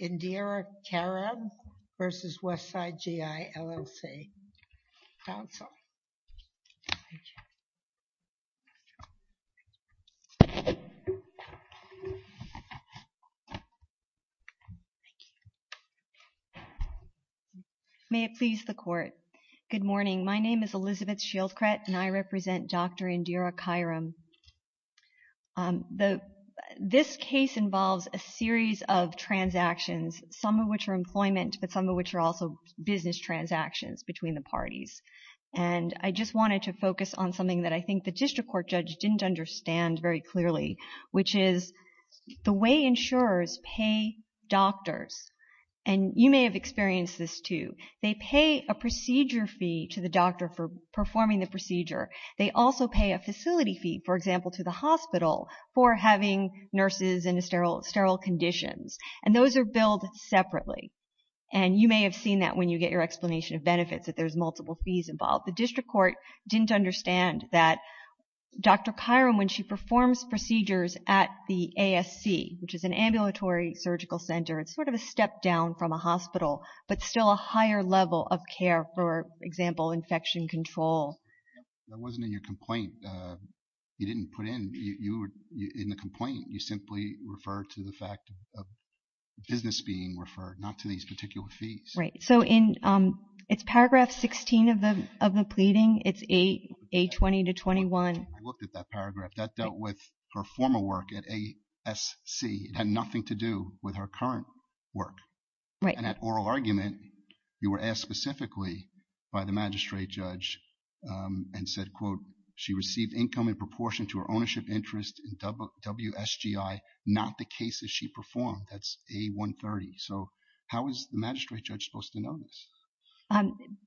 M.D. v. West Side GI, LLC, Council. May it please the Court. Good morning. My name is Elizabeth Shieldcret and I represent Dr. Indira Kairam. This case involves a series of transactions, some of which are employment, but some of which are also business transactions between the parties. And I just wanted to focus on something that I think the district court judge didn't understand very clearly, which is the way insurers pay doctors, and you may have experienced this too, they pay a procedure fee to the doctor for performing the procedure. They also pay a facility fee, for example, to the hospital for having nurses in sterile conditions. And those are billed separately. And you may have seen that when you get your explanation of benefits, that there's multiple fees involved. The district court didn't understand that Dr. Kairam, when she performs procedures at the ASC, which is an ambulatory surgical center, it's sort of a step down from a hospital, but still a higher level of care, for example, infection control. That wasn't in your complaint. You didn't put in. In the complaint, you simply refer to the fact of business being referred, not to these particular fees. Right. So in, it's paragraph 16 of the pleading, it's A20 to 21. I looked at that paragraph. That dealt with her former work at ASC, it had nothing to do with her current work. Right. And at oral argument, you were asked specifically by the magistrate judge and said, quote, she received income in proportion to her ownership interest in WSGI, not the cases she performed. That's A130. So how is the magistrate judge supposed to know this?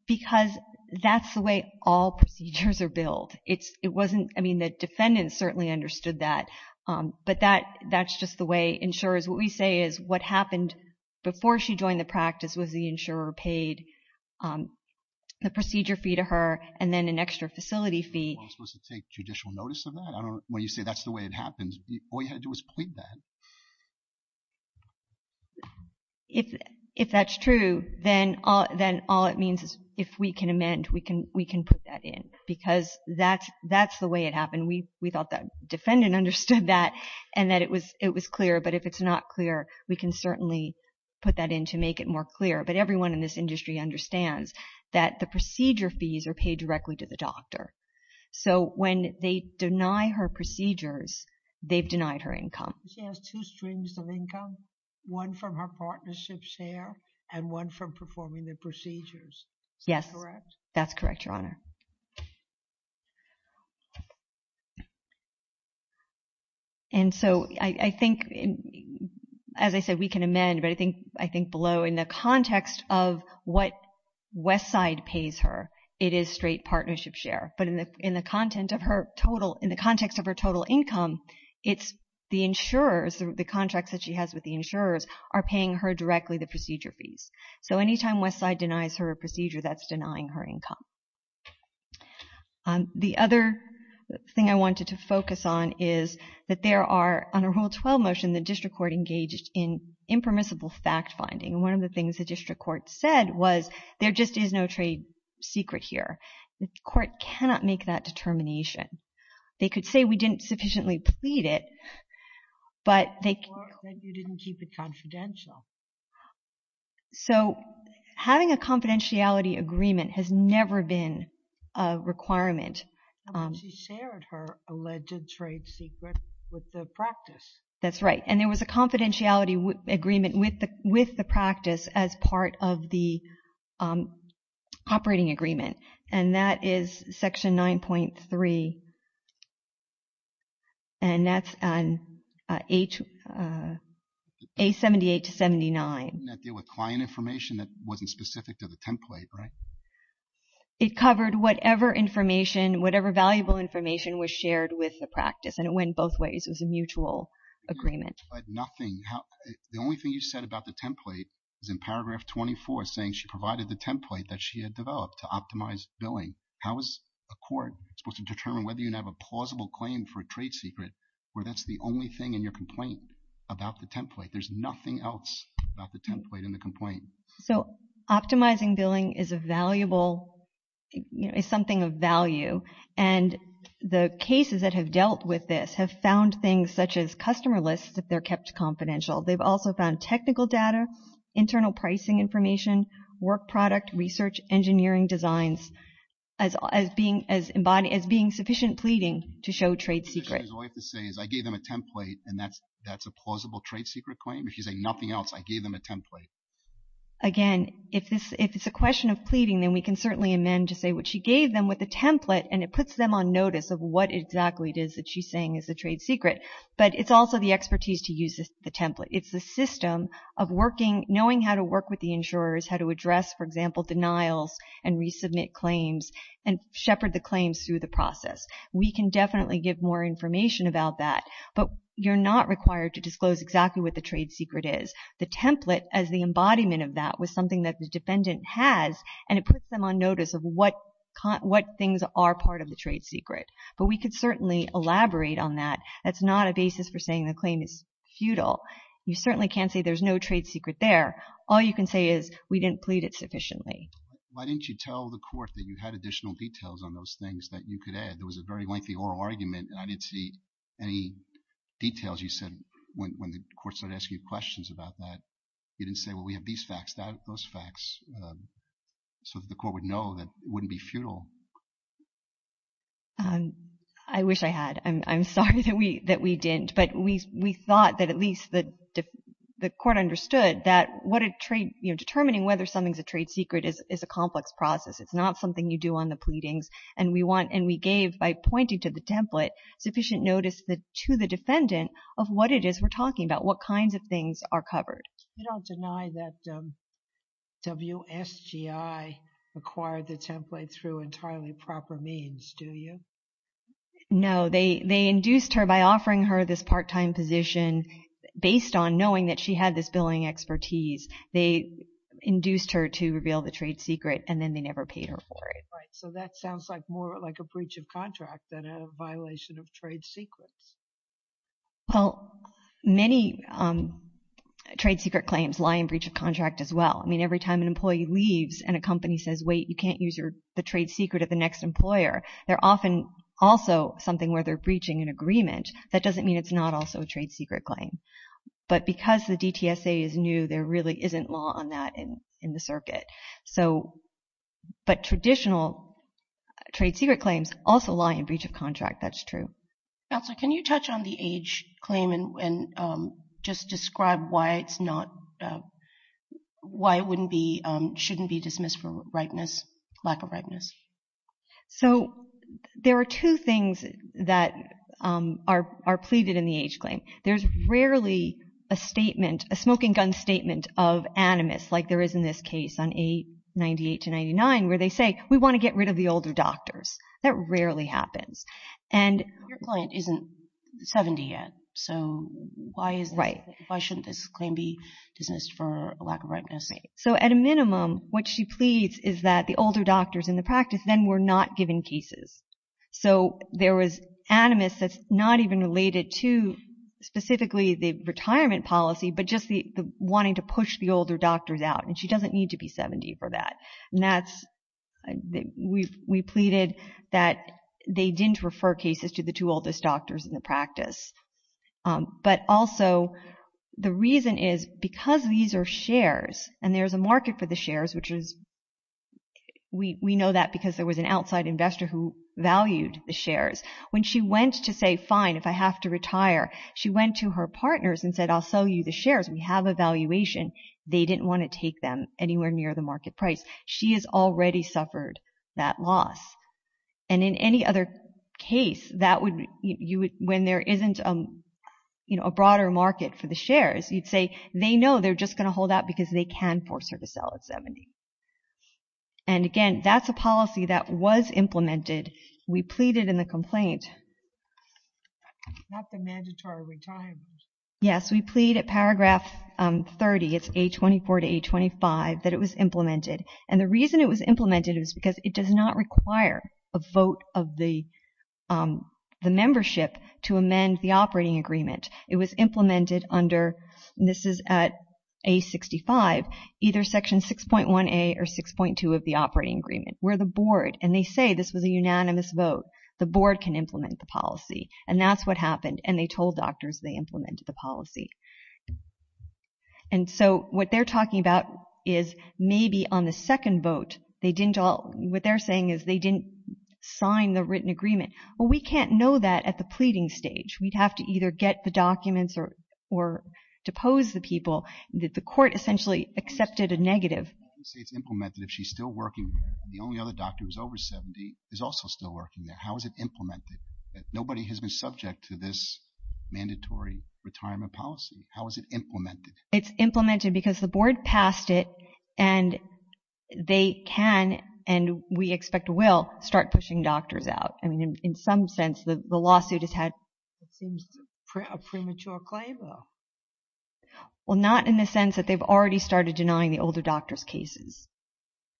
Because that's the way all procedures are billed. It wasn't, I mean, the defendant certainly understood that. But that's just the way insurers, what we say is what happened before she joined the practice was the insurer paid the procedure fee to her and then an extra facility fee. Was she supposed to take judicial notice of that? I don't, when you say that's the way it happens, all you had to do was plead that. If that's true, then all it means is if we can amend, we can put that in because that's the way it happened. We thought the defendant understood that and that it was clear, but if it's not clear, we can certainly put that in to make it more clear. But everyone in this industry understands that the procedure fees are paid directly to the doctor. So when they deny her procedures, they've denied her income. She has two streams of income, one from her partnership share and one from performing the procedures. Yes. Is that correct? That's correct, Your Honor. And so I think, as I said, we can amend, but I think below in the context of what Westside pays her, it is straight partnership share, but in the context of her total income, it's the insurers, the contracts that she has with the insurers are paying her directly the procedure fees. So any time Westside denies her a procedure, that's denying her income. The other thing I wanted to focus on is that there are, under Rule 12 motion, the district court engaged in impermissible fact-finding, and one of the things the district court said was there just is no trade secret here. The court cannot make that determination. They could say we didn't sufficiently plead it, but they can't. They can't keep it confidential. So having a confidentiality agreement has never been a requirement. She shared her alleged trade secret with the practice. That's right, and there was a confidentiality agreement with the practice as part of the A78-79. It didn't deal with client information that wasn't specific to the template, right? It covered whatever information, whatever valuable information was shared with the practice, and it went both ways. It was a mutual agreement. But nothing, the only thing you said about the template is in paragraph 24 saying she provided the template that she had developed to optimize billing. How is a court supposed to determine whether you have a plausible claim for a trade secret where that's the only thing in your complaint about the template? There's nothing else about the template in the complaint. So optimizing billing is a valuable, is something of value, and the cases that have dealt with this have found things such as customer lists if they're kept confidential. They've also found technical data, internal pricing information, work product, research, engineering designs as being sufficient pleading to show trade secrets. All I have to say is I gave them a template, and that's a plausible trade secret claim. If you say nothing else, I gave them a template. Again, if it's a question of pleading, then we can certainly amend to say what she gave them with the template, and it puts them on notice of what exactly it is that she's saying is the trade secret. But it's also the expertise to use the template. It's the system of working, knowing how to work with the insurers, how to address, for example, denials and resubmit claims and shepherd the claims through the process. We can definitely give more information about that, but you're not required to disclose exactly what the trade secret is. The template as the embodiment of that was something that the defendant has, and it puts them on notice of what things are part of the trade secret. But we could certainly elaborate on that. That's not a basis for saying the claim is futile. You certainly can't say there's no trade secret there. All you can say is we didn't plead it sufficiently. Why didn't you tell the court that you had additional details on those things that you could add? There was a very lengthy oral argument, and I didn't see any details you said when the court started asking you questions about that. You didn't say, well, we have these facts, those facts, so that the court would know that it wouldn't be futile. I wish I had. I'm sorry that we didn't, but we thought that at least the court understood that determining whether something's a trade secret is a complex process. It's not something you do on the pleadings, and we gave, by pointing to the template, sufficient notice to the defendant of what it is we're talking about, what kinds of things are covered. You don't deny that WSGI acquired the template through entirely proper means, do you? No. They induced her by offering her this part-time position based on knowing that she had this billing expertise. They induced her to reveal the trade secret, and then they never paid her for it. Right. So that sounds more like a breach of contract than a violation of trade secrets. Well, many trade secret claims lie in breach of contract as well. Every time an employee leaves and a company says, wait, you can't use the trade secret of the next employer, they're often also something where they're breaching an agreement. That doesn't mean it's not also a trade secret claim, but because the DTSA is new, they're really isn't law on that in the circuit. But traditional trade secret claims also lie in breach of contract. That's true. Counselor, can you touch on the age claim and just describe why it shouldn't be dismissed for lack of rightness? So there are two things that are pleaded in the age claim. There's rarely a statement, a smoking gun statement of animus like there is in this case on 898-99 where they say, we want to get rid of the older doctors. That rarely happens. And your client isn't 70 yet, so why shouldn't this claim be dismissed for a lack of rightness? So at a minimum, what she pleads is that the older doctors in the practice then were not given cases. So there was animus that's not even related to specifically the retirement policy, but just the wanting to push the older doctors out, and she doesn't need to be 70 for that. We pleaded that they didn't refer cases to the two oldest doctors in the practice. But also, the reason is because these are shares and there's a market for the shares, which is, we know that because there was an outside investor who valued the shares. When she went to say, fine, if I have to retire, she went to her partners and said, I'll sell you the shares, we have a valuation, they didn't want to take them anywhere near the market price. She has already suffered that loss. And in any other case, when there isn't a broader market for the shares, you'd say, they know they're just going to hold out because they can force her to sell at 70. And again, that's a policy that was implemented. We pleaded in the complaint. Not the mandatory retirement. Yes, we plead at paragraph 30, it's 824 to 825, that it was implemented. And the reason it was implemented is because it does not require a vote of the membership to amend the operating agreement. It was implemented under, this is at A65, either section 6.1A or 6.2 of the operating agreement, where the board, and they say this was a unanimous vote, the board can implement the policy. And that's what happened. And they told doctors they implemented the policy. And so, what they're talking about is, maybe on the second vote, they didn't all, what they're saying is, they didn't sign the written agreement. Well, we can't know that at the pleading stage. We'd have to either get the documents or depose the people. The court essentially accepted a negative. You say it's implemented, if she's still working there, the only other doctor who's over 70 is also still working there. How is it implemented? Nobody has been subject to this mandatory retirement policy. How is it implemented? It's implemented because the board passed it, and they can, and we expect will, start pushing doctors out. I mean, in some sense, the lawsuit has had, it seems, a premature claim, though. Well, not in the sense that they've already started denying the older doctors' cases.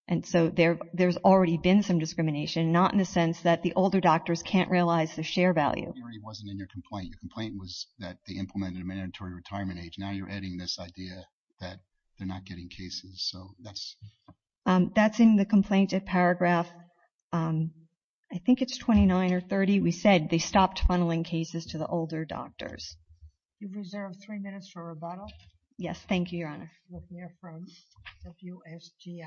And so, there's already been some discrimination, not in the sense that the older doctors can't realize their share value. It wasn't in your complaint. Your complaint was that they implemented a mandatory retirement age. Now you're adding this idea that they're not getting cases. So, that's... That's in the complaint, a paragraph, I think it's 29 or 30. We said they stopped funneling cases to the older doctors. You've reserved three minutes for rebuttal. Yes. Thank you, Your Honor. We're from WSGI.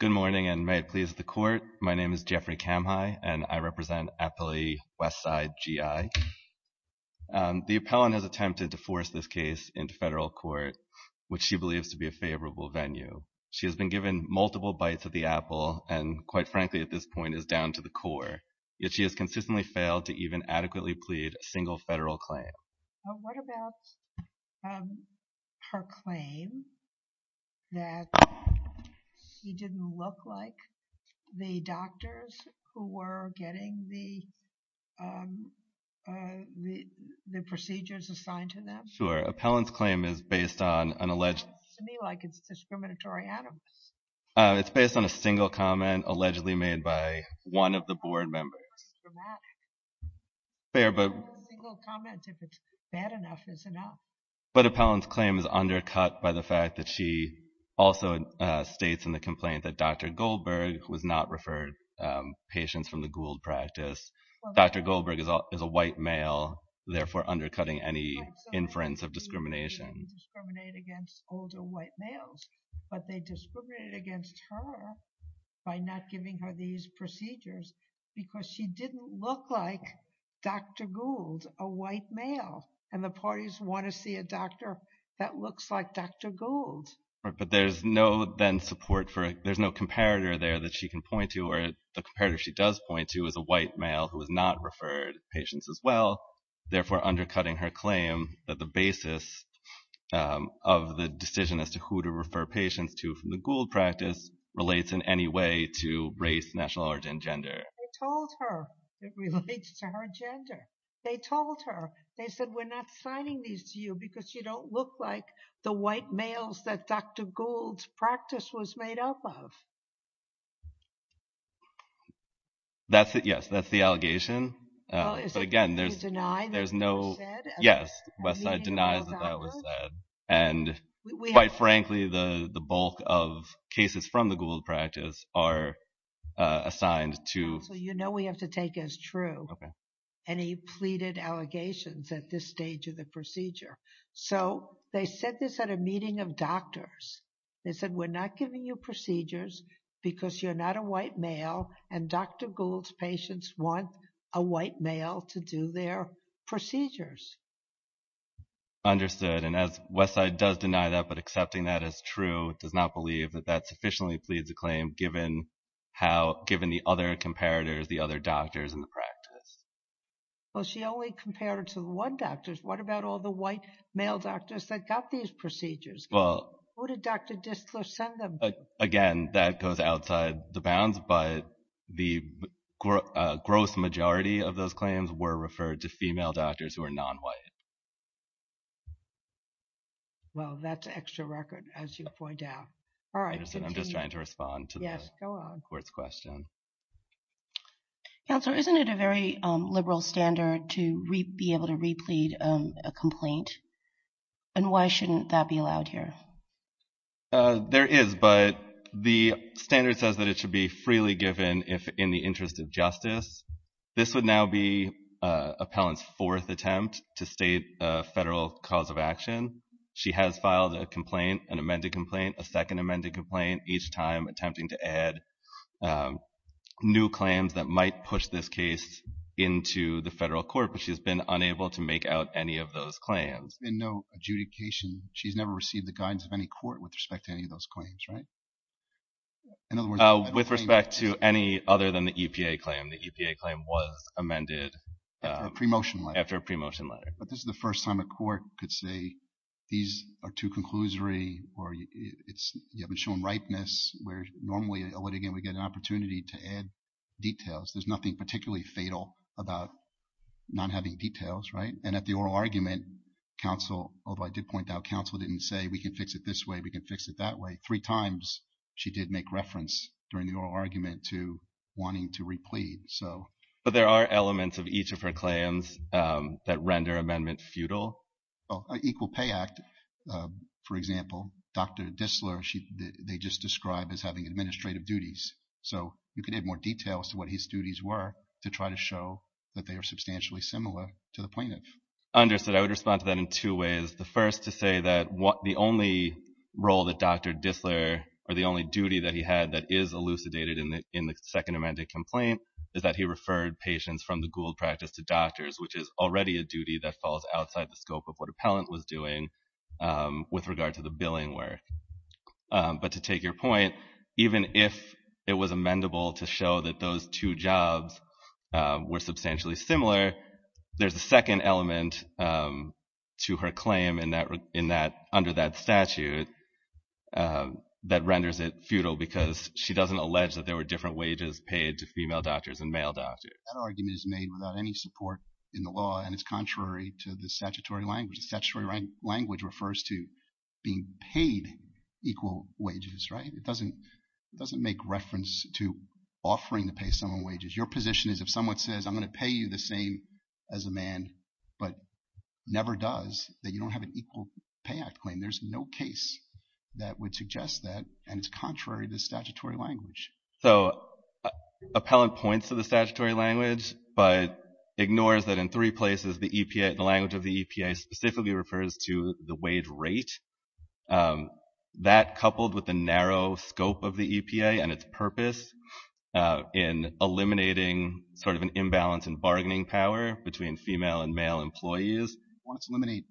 Good morning, and may it please the court. My name is Jeffrey Kamhai, and I represent Appellee Westside GI. The appellant has attempted to force this case into federal court, which she believes to be a favorable venue. She has been given multiple bites at the apple, and quite frankly, at this point, is down to the core. Yet, she has consistently failed to even adequately plead a single federal claim. What about her claim that he didn't look like the doctors who were getting the procedures assigned to them? Sure. Appellant's claim is based on an alleged... It sounds to me like it's discriminatory atoms. It's based on a single comment allegedly made by one of the board members. It's dramatic. Fair, but... A single comment, if it's bad enough, is enough. But appellant's claim is undercut by the fact that she also states in the complaint that Dr. Goldberg was not referred patients from the Gould practice. Dr. Goldberg is a white male, therefore undercutting any inference of discrimination. I'm sorry. We discriminate against older white males, but they discriminated against her by not giving her these procedures because she didn't look like Dr. Gould, a white male, and the parties want to see a doctor that looks like Dr. Gould. But there's no, then, support for... There's no comparator there that she can point to, or the comparator she does point to is a white male who was not referred patients as well, therefore undercutting her claim that the basis of the decision as to who to refer patients to from the Gould practice relates in any way to race, national origin, gender. They told her it relates to her gender. They told her. They said, we're not signing these to you because you don't look like the white males that Dr. Gould's practice was made up of. That's, yes, that's the allegation, but again, there's no, yes, Westside denies that that was said. And quite frankly, the bulk of cases from the Gould practice are assigned to... So you know we have to take as true any pleaded allegations at this stage of the procedure. So they said this at a meeting of doctors. They said, we're not giving you procedures because you're not a white male, and Dr. Gould's patients want a white male to do their procedures. Understood. And as Westside does deny that, but accepting that as true, does not believe that that sufficiently pleads a claim given how, given the other comparators, the other doctors in the practice. Well, she only compared it to the one doctors. What about all the white male doctors that got these procedures? Who did Dr. Distler send them? Again, that goes outside the bounds, but the gross majority of those claims were referred to female doctors who are non-white. Well that's extra record, as you point out. All right. Understood. I'm just trying to respond to the court's question. Yes, go on. Counselor, isn't it a very liberal standard to be able to replead a complaint, and why shouldn't that be allowed here? There is, but the standard says that it should be freely given if in the interest of justice. This would now be an appellant's fourth attempt to state a federal cause of action. She has filed a complaint, an amended complaint, a second amended complaint, each time attempting to add new claims that might push this case into the federal court, but she has been unable to make out any of those claims. And no adjudication. She's never received the guidance of any court with respect to any of those claims, right? With respect to any other than the EPA claim, the EPA claim was amended after a pre-motion letter. But this is the first time a court could say, these are too conclusory, or you haven't shown ripeness where normally a litigant would get an opportunity to add details. There's nothing particularly fatal about not having details, right? And at the oral argument, counsel, although I did point out, counsel didn't say, we can fix it this way, we can fix it that way. Three times she did make reference during the oral argument to wanting to replead, so. But there are elements of each of her claims that render amendment futile. Equal Pay Act, for example, Dr. Disler, they just described as having administrative duties. So you could add more details to what his duties were to try to show that they are substantially similar to the plaintiff. Understood. I would respond to that in two ways. The first to say that the only role that Dr. Disler, or the only duty that he had that is elucidated in the second amended complaint, is that he referred patients from the Gould practice to doctors, which is already a duty that falls outside the scope of what appellant was doing with regard to the billing work. But to take your point, even if it was amendable to show that those two jobs were substantially similar, there's a second element to her claim under that statute that renders it futile because she doesn't allege that there were different wages paid to female doctors and male doctors. That argument is made without any support in the law, and it's contrary to the statutory language. The statutory language refers to being paid equal wages, right? It doesn't make reference to offering to pay someone wages. Your position is if someone says, I'm going to pay you the same as a man, but never does, that you don't have an equal pay act claim. There's no case that would suggest that, and it's contrary to the statutory language. So appellant points to the statutory language, but ignores that in three places, the language of the EPA specifically refers to the wage rate. That, coupled with the narrow scope of the EPA and its purpose in eliminating sort of an imbalance in bargaining power between female and male employees. It wants to eliminate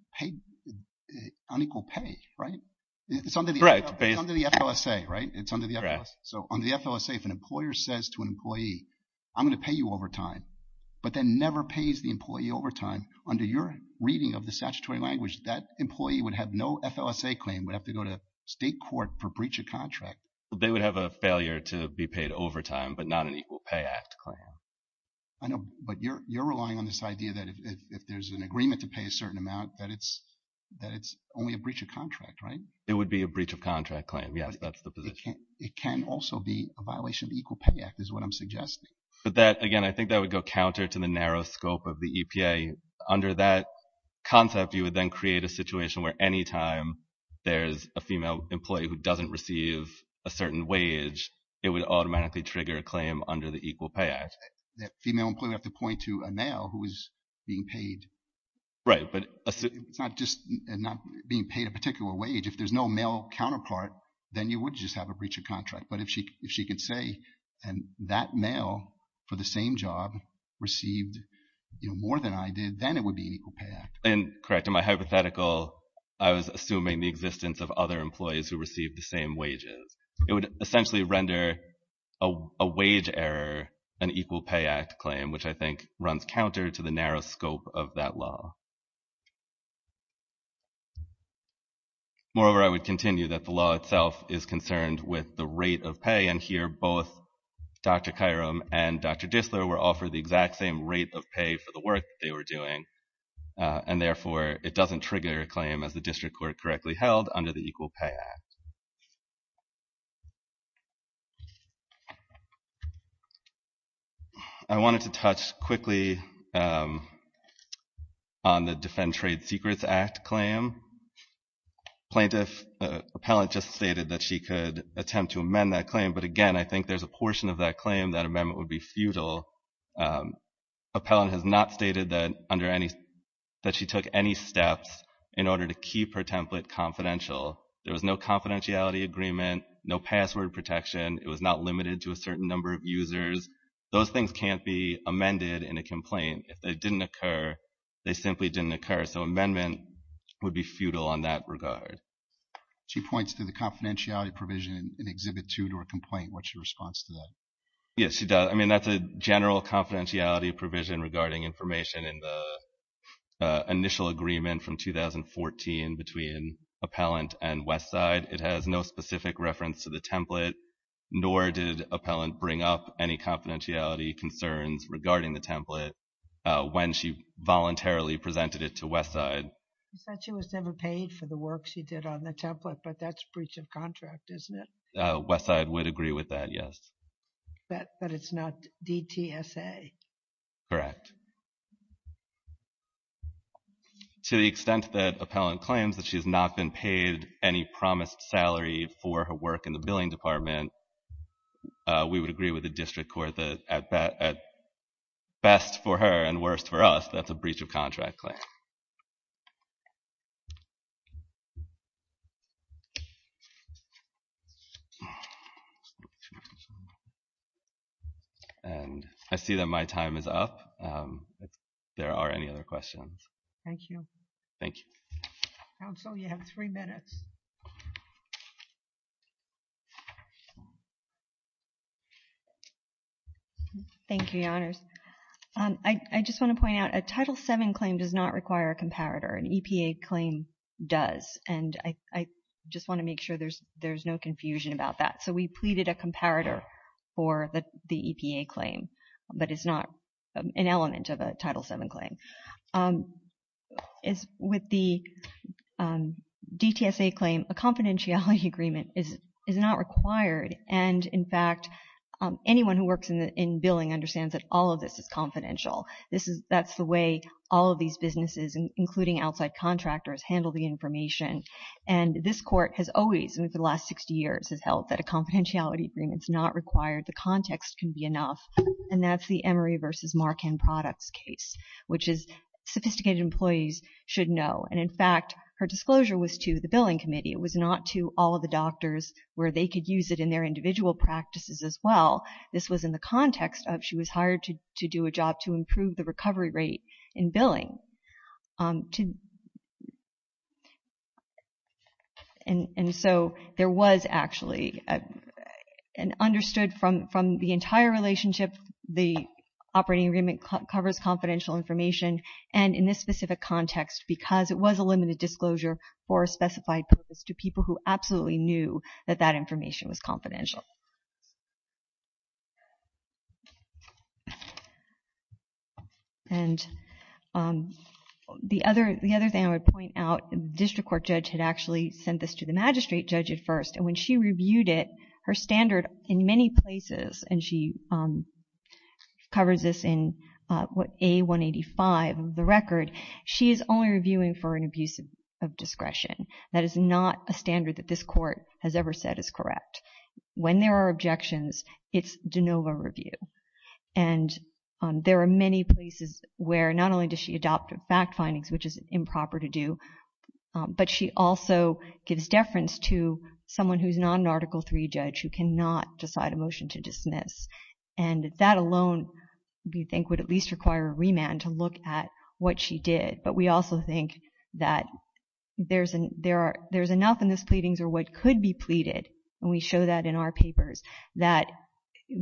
unequal pay, right? It's under the FLSA, right? It's under the FLSA. So under the FLSA, if an employer says to an employee, I'm going to pay you overtime, but then never pays the employee overtime, under your reading of the statutory language, that employee would have no FLSA claim, would have to go to state court for breach of contract. They would have a failure to be paid overtime, but not an equal pay act claim. I know, but you're relying on this idea that if there's an agreement to pay a certain amount, that it's only a breach of contract, right? It would be a breach of contract claim. Yes, that's the position. It can also be a violation of the equal pay act is what I'm suggesting. But that, again, I think that would go counter to the narrow scope of the EPA. Under that concept, you would then create a situation where any time there's a female employee who doesn't receive a certain wage, it would automatically trigger a claim under the equal pay act. That female employee would have to point to a male who is being paid. Right. But it's not just not being paid a particular wage. If there's no male counterpart, then you would just have a breach of contract. But if she could say, and that male for the same job received more than I did, then it would be an equal pay act. Correct. In my hypothetical, I was assuming the existence of other employees who received the same wages. It would essentially render a wage error, an equal pay act claim, which I think runs counter to the narrow scope of that law. Moreover, I would continue that the law itself is concerned with the rate of pay. And here, both Dr. Khairum and Dr. Dissler were offered the exact same rate of pay for the work that they were doing. And therefore, it doesn't trigger a claim as the district court correctly held under the equal pay act. I wanted to touch quickly on the Defend Trade Secrets Act claim. Plaintiff appellant just stated that she could attempt to amend that claim. But again, I think there's a portion of that claim that amendment would be futile. Appellant has not stated that she took any steps in order to keep her template confidential. There was no confidentiality agreement, no password protection. It was not limited to a certain number of users. Those things can't be amended in a complaint. If they didn't occur, they simply didn't occur. So amendment would be futile on that regard. She points to the confidentiality provision in Exhibit 2 to her complaint. What's your response to that? Yes, she does. I mean, that's a general confidentiality provision regarding information in the initial agreement from 2014 between appellant and Westside. It has no specific reference to the template, nor did appellant bring up any confidentiality concerns regarding the template when she voluntarily presented it to Westside. She said she was never paid for the work she did on the template, but that's breach of contract, isn't it? Westside would agree with that, yes. But it's not DTSA? Correct. To the extent that appellant claims that she has not been paid any promised salary for her work in the billing department, we would agree with the district court that, at best for her and worst for us, that's a breach of contract claim. And I see that my time is up. There are any other questions? Thank you. Thank you. Counsel, you have three minutes. Thank you, Your Honors. I just want to point out, a Title VII claim does not require a comparator. An EPA claim does. And I just want to make sure there's no confusion about that. So we pleaded a comparator for the EPA claim, but it's not an element of a Title VII claim. With the DTSA claim, a confidentiality agreement is not required. And in fact, anyone who works in billing understands that all of this is confidential. That's the way all of these businesses, including outside contractors, handle the information. And this Court has always, over the last 60 years, has held that a confidentiality agreement is not required. The context can be enough. And that's the Emory v. Marcan Products case, which sophisticated employees should know. And in fact, her disclosure was to the billing committee. It was not to all of the doctors where they could use it in their individual practices as well. This was in the context of she was hired to do a job to improve the recovery rate in billing. And so there was actually an understood from the entire relationship, the operating agreement covers confidential information. And in this specific context, because it was a limited disclosure for a specified purpose to people who absolutely knew that that information was confidential. And the other thing I would point out, the District Court judge had actually sent this request. And when she reviewed it, her standard in many places, and she covers this in A185 of the record, she is only reviewing for an abuse of discretion. That is not a standard that this Court has ever said is correct. When there are objections, it's de novo review. And there are many places where not only does she adopt fact findings, which is improper to do, but she also gives deference to someone who's not an Article III judge who cannot decide a motion to dismiss. And that alone, we think, would at least require a remand to look at what she did. But we also think that there's enough in this pleadings or what could be pleaded, and we show that in our papers, that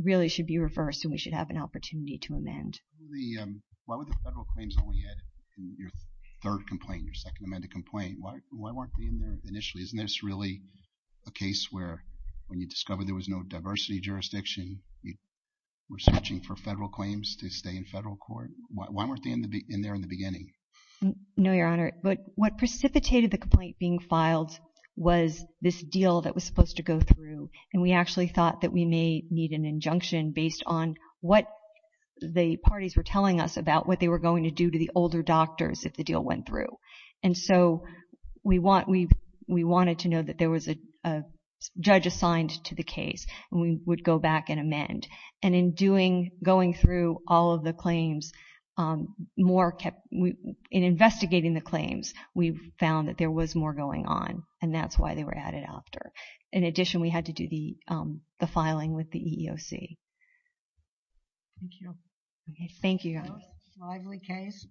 really should be reversed and we should have an opportunity to amend. Why were the federal claims only added in your third complaint, your second amended complaint? Why weren't they in there initially? Isn't this really a case where when you discovered there was no diversity jurisdiction, you were searching for federal claims to stay in federal court? Why weren't they in there in the beginning? No, Your Honor, but what precipitated the complaint being filed was this deal that was supposed to go through. And we actually thought that we may need an injunction based on what the parties were telling us about what they were going to do to the older doctors if the deal went through. And so we wanted to know that there was a judge assigned to the case, and we would go back and amend. And in doing, going through all of the claims, more kept, in investigating the claims, we found that there was more going on, and that's why they were added after. In addition, we had to do the filing with the EEOC. Thank you. Thank you, Your Honor. This is a lively case. Thank you. Thank you.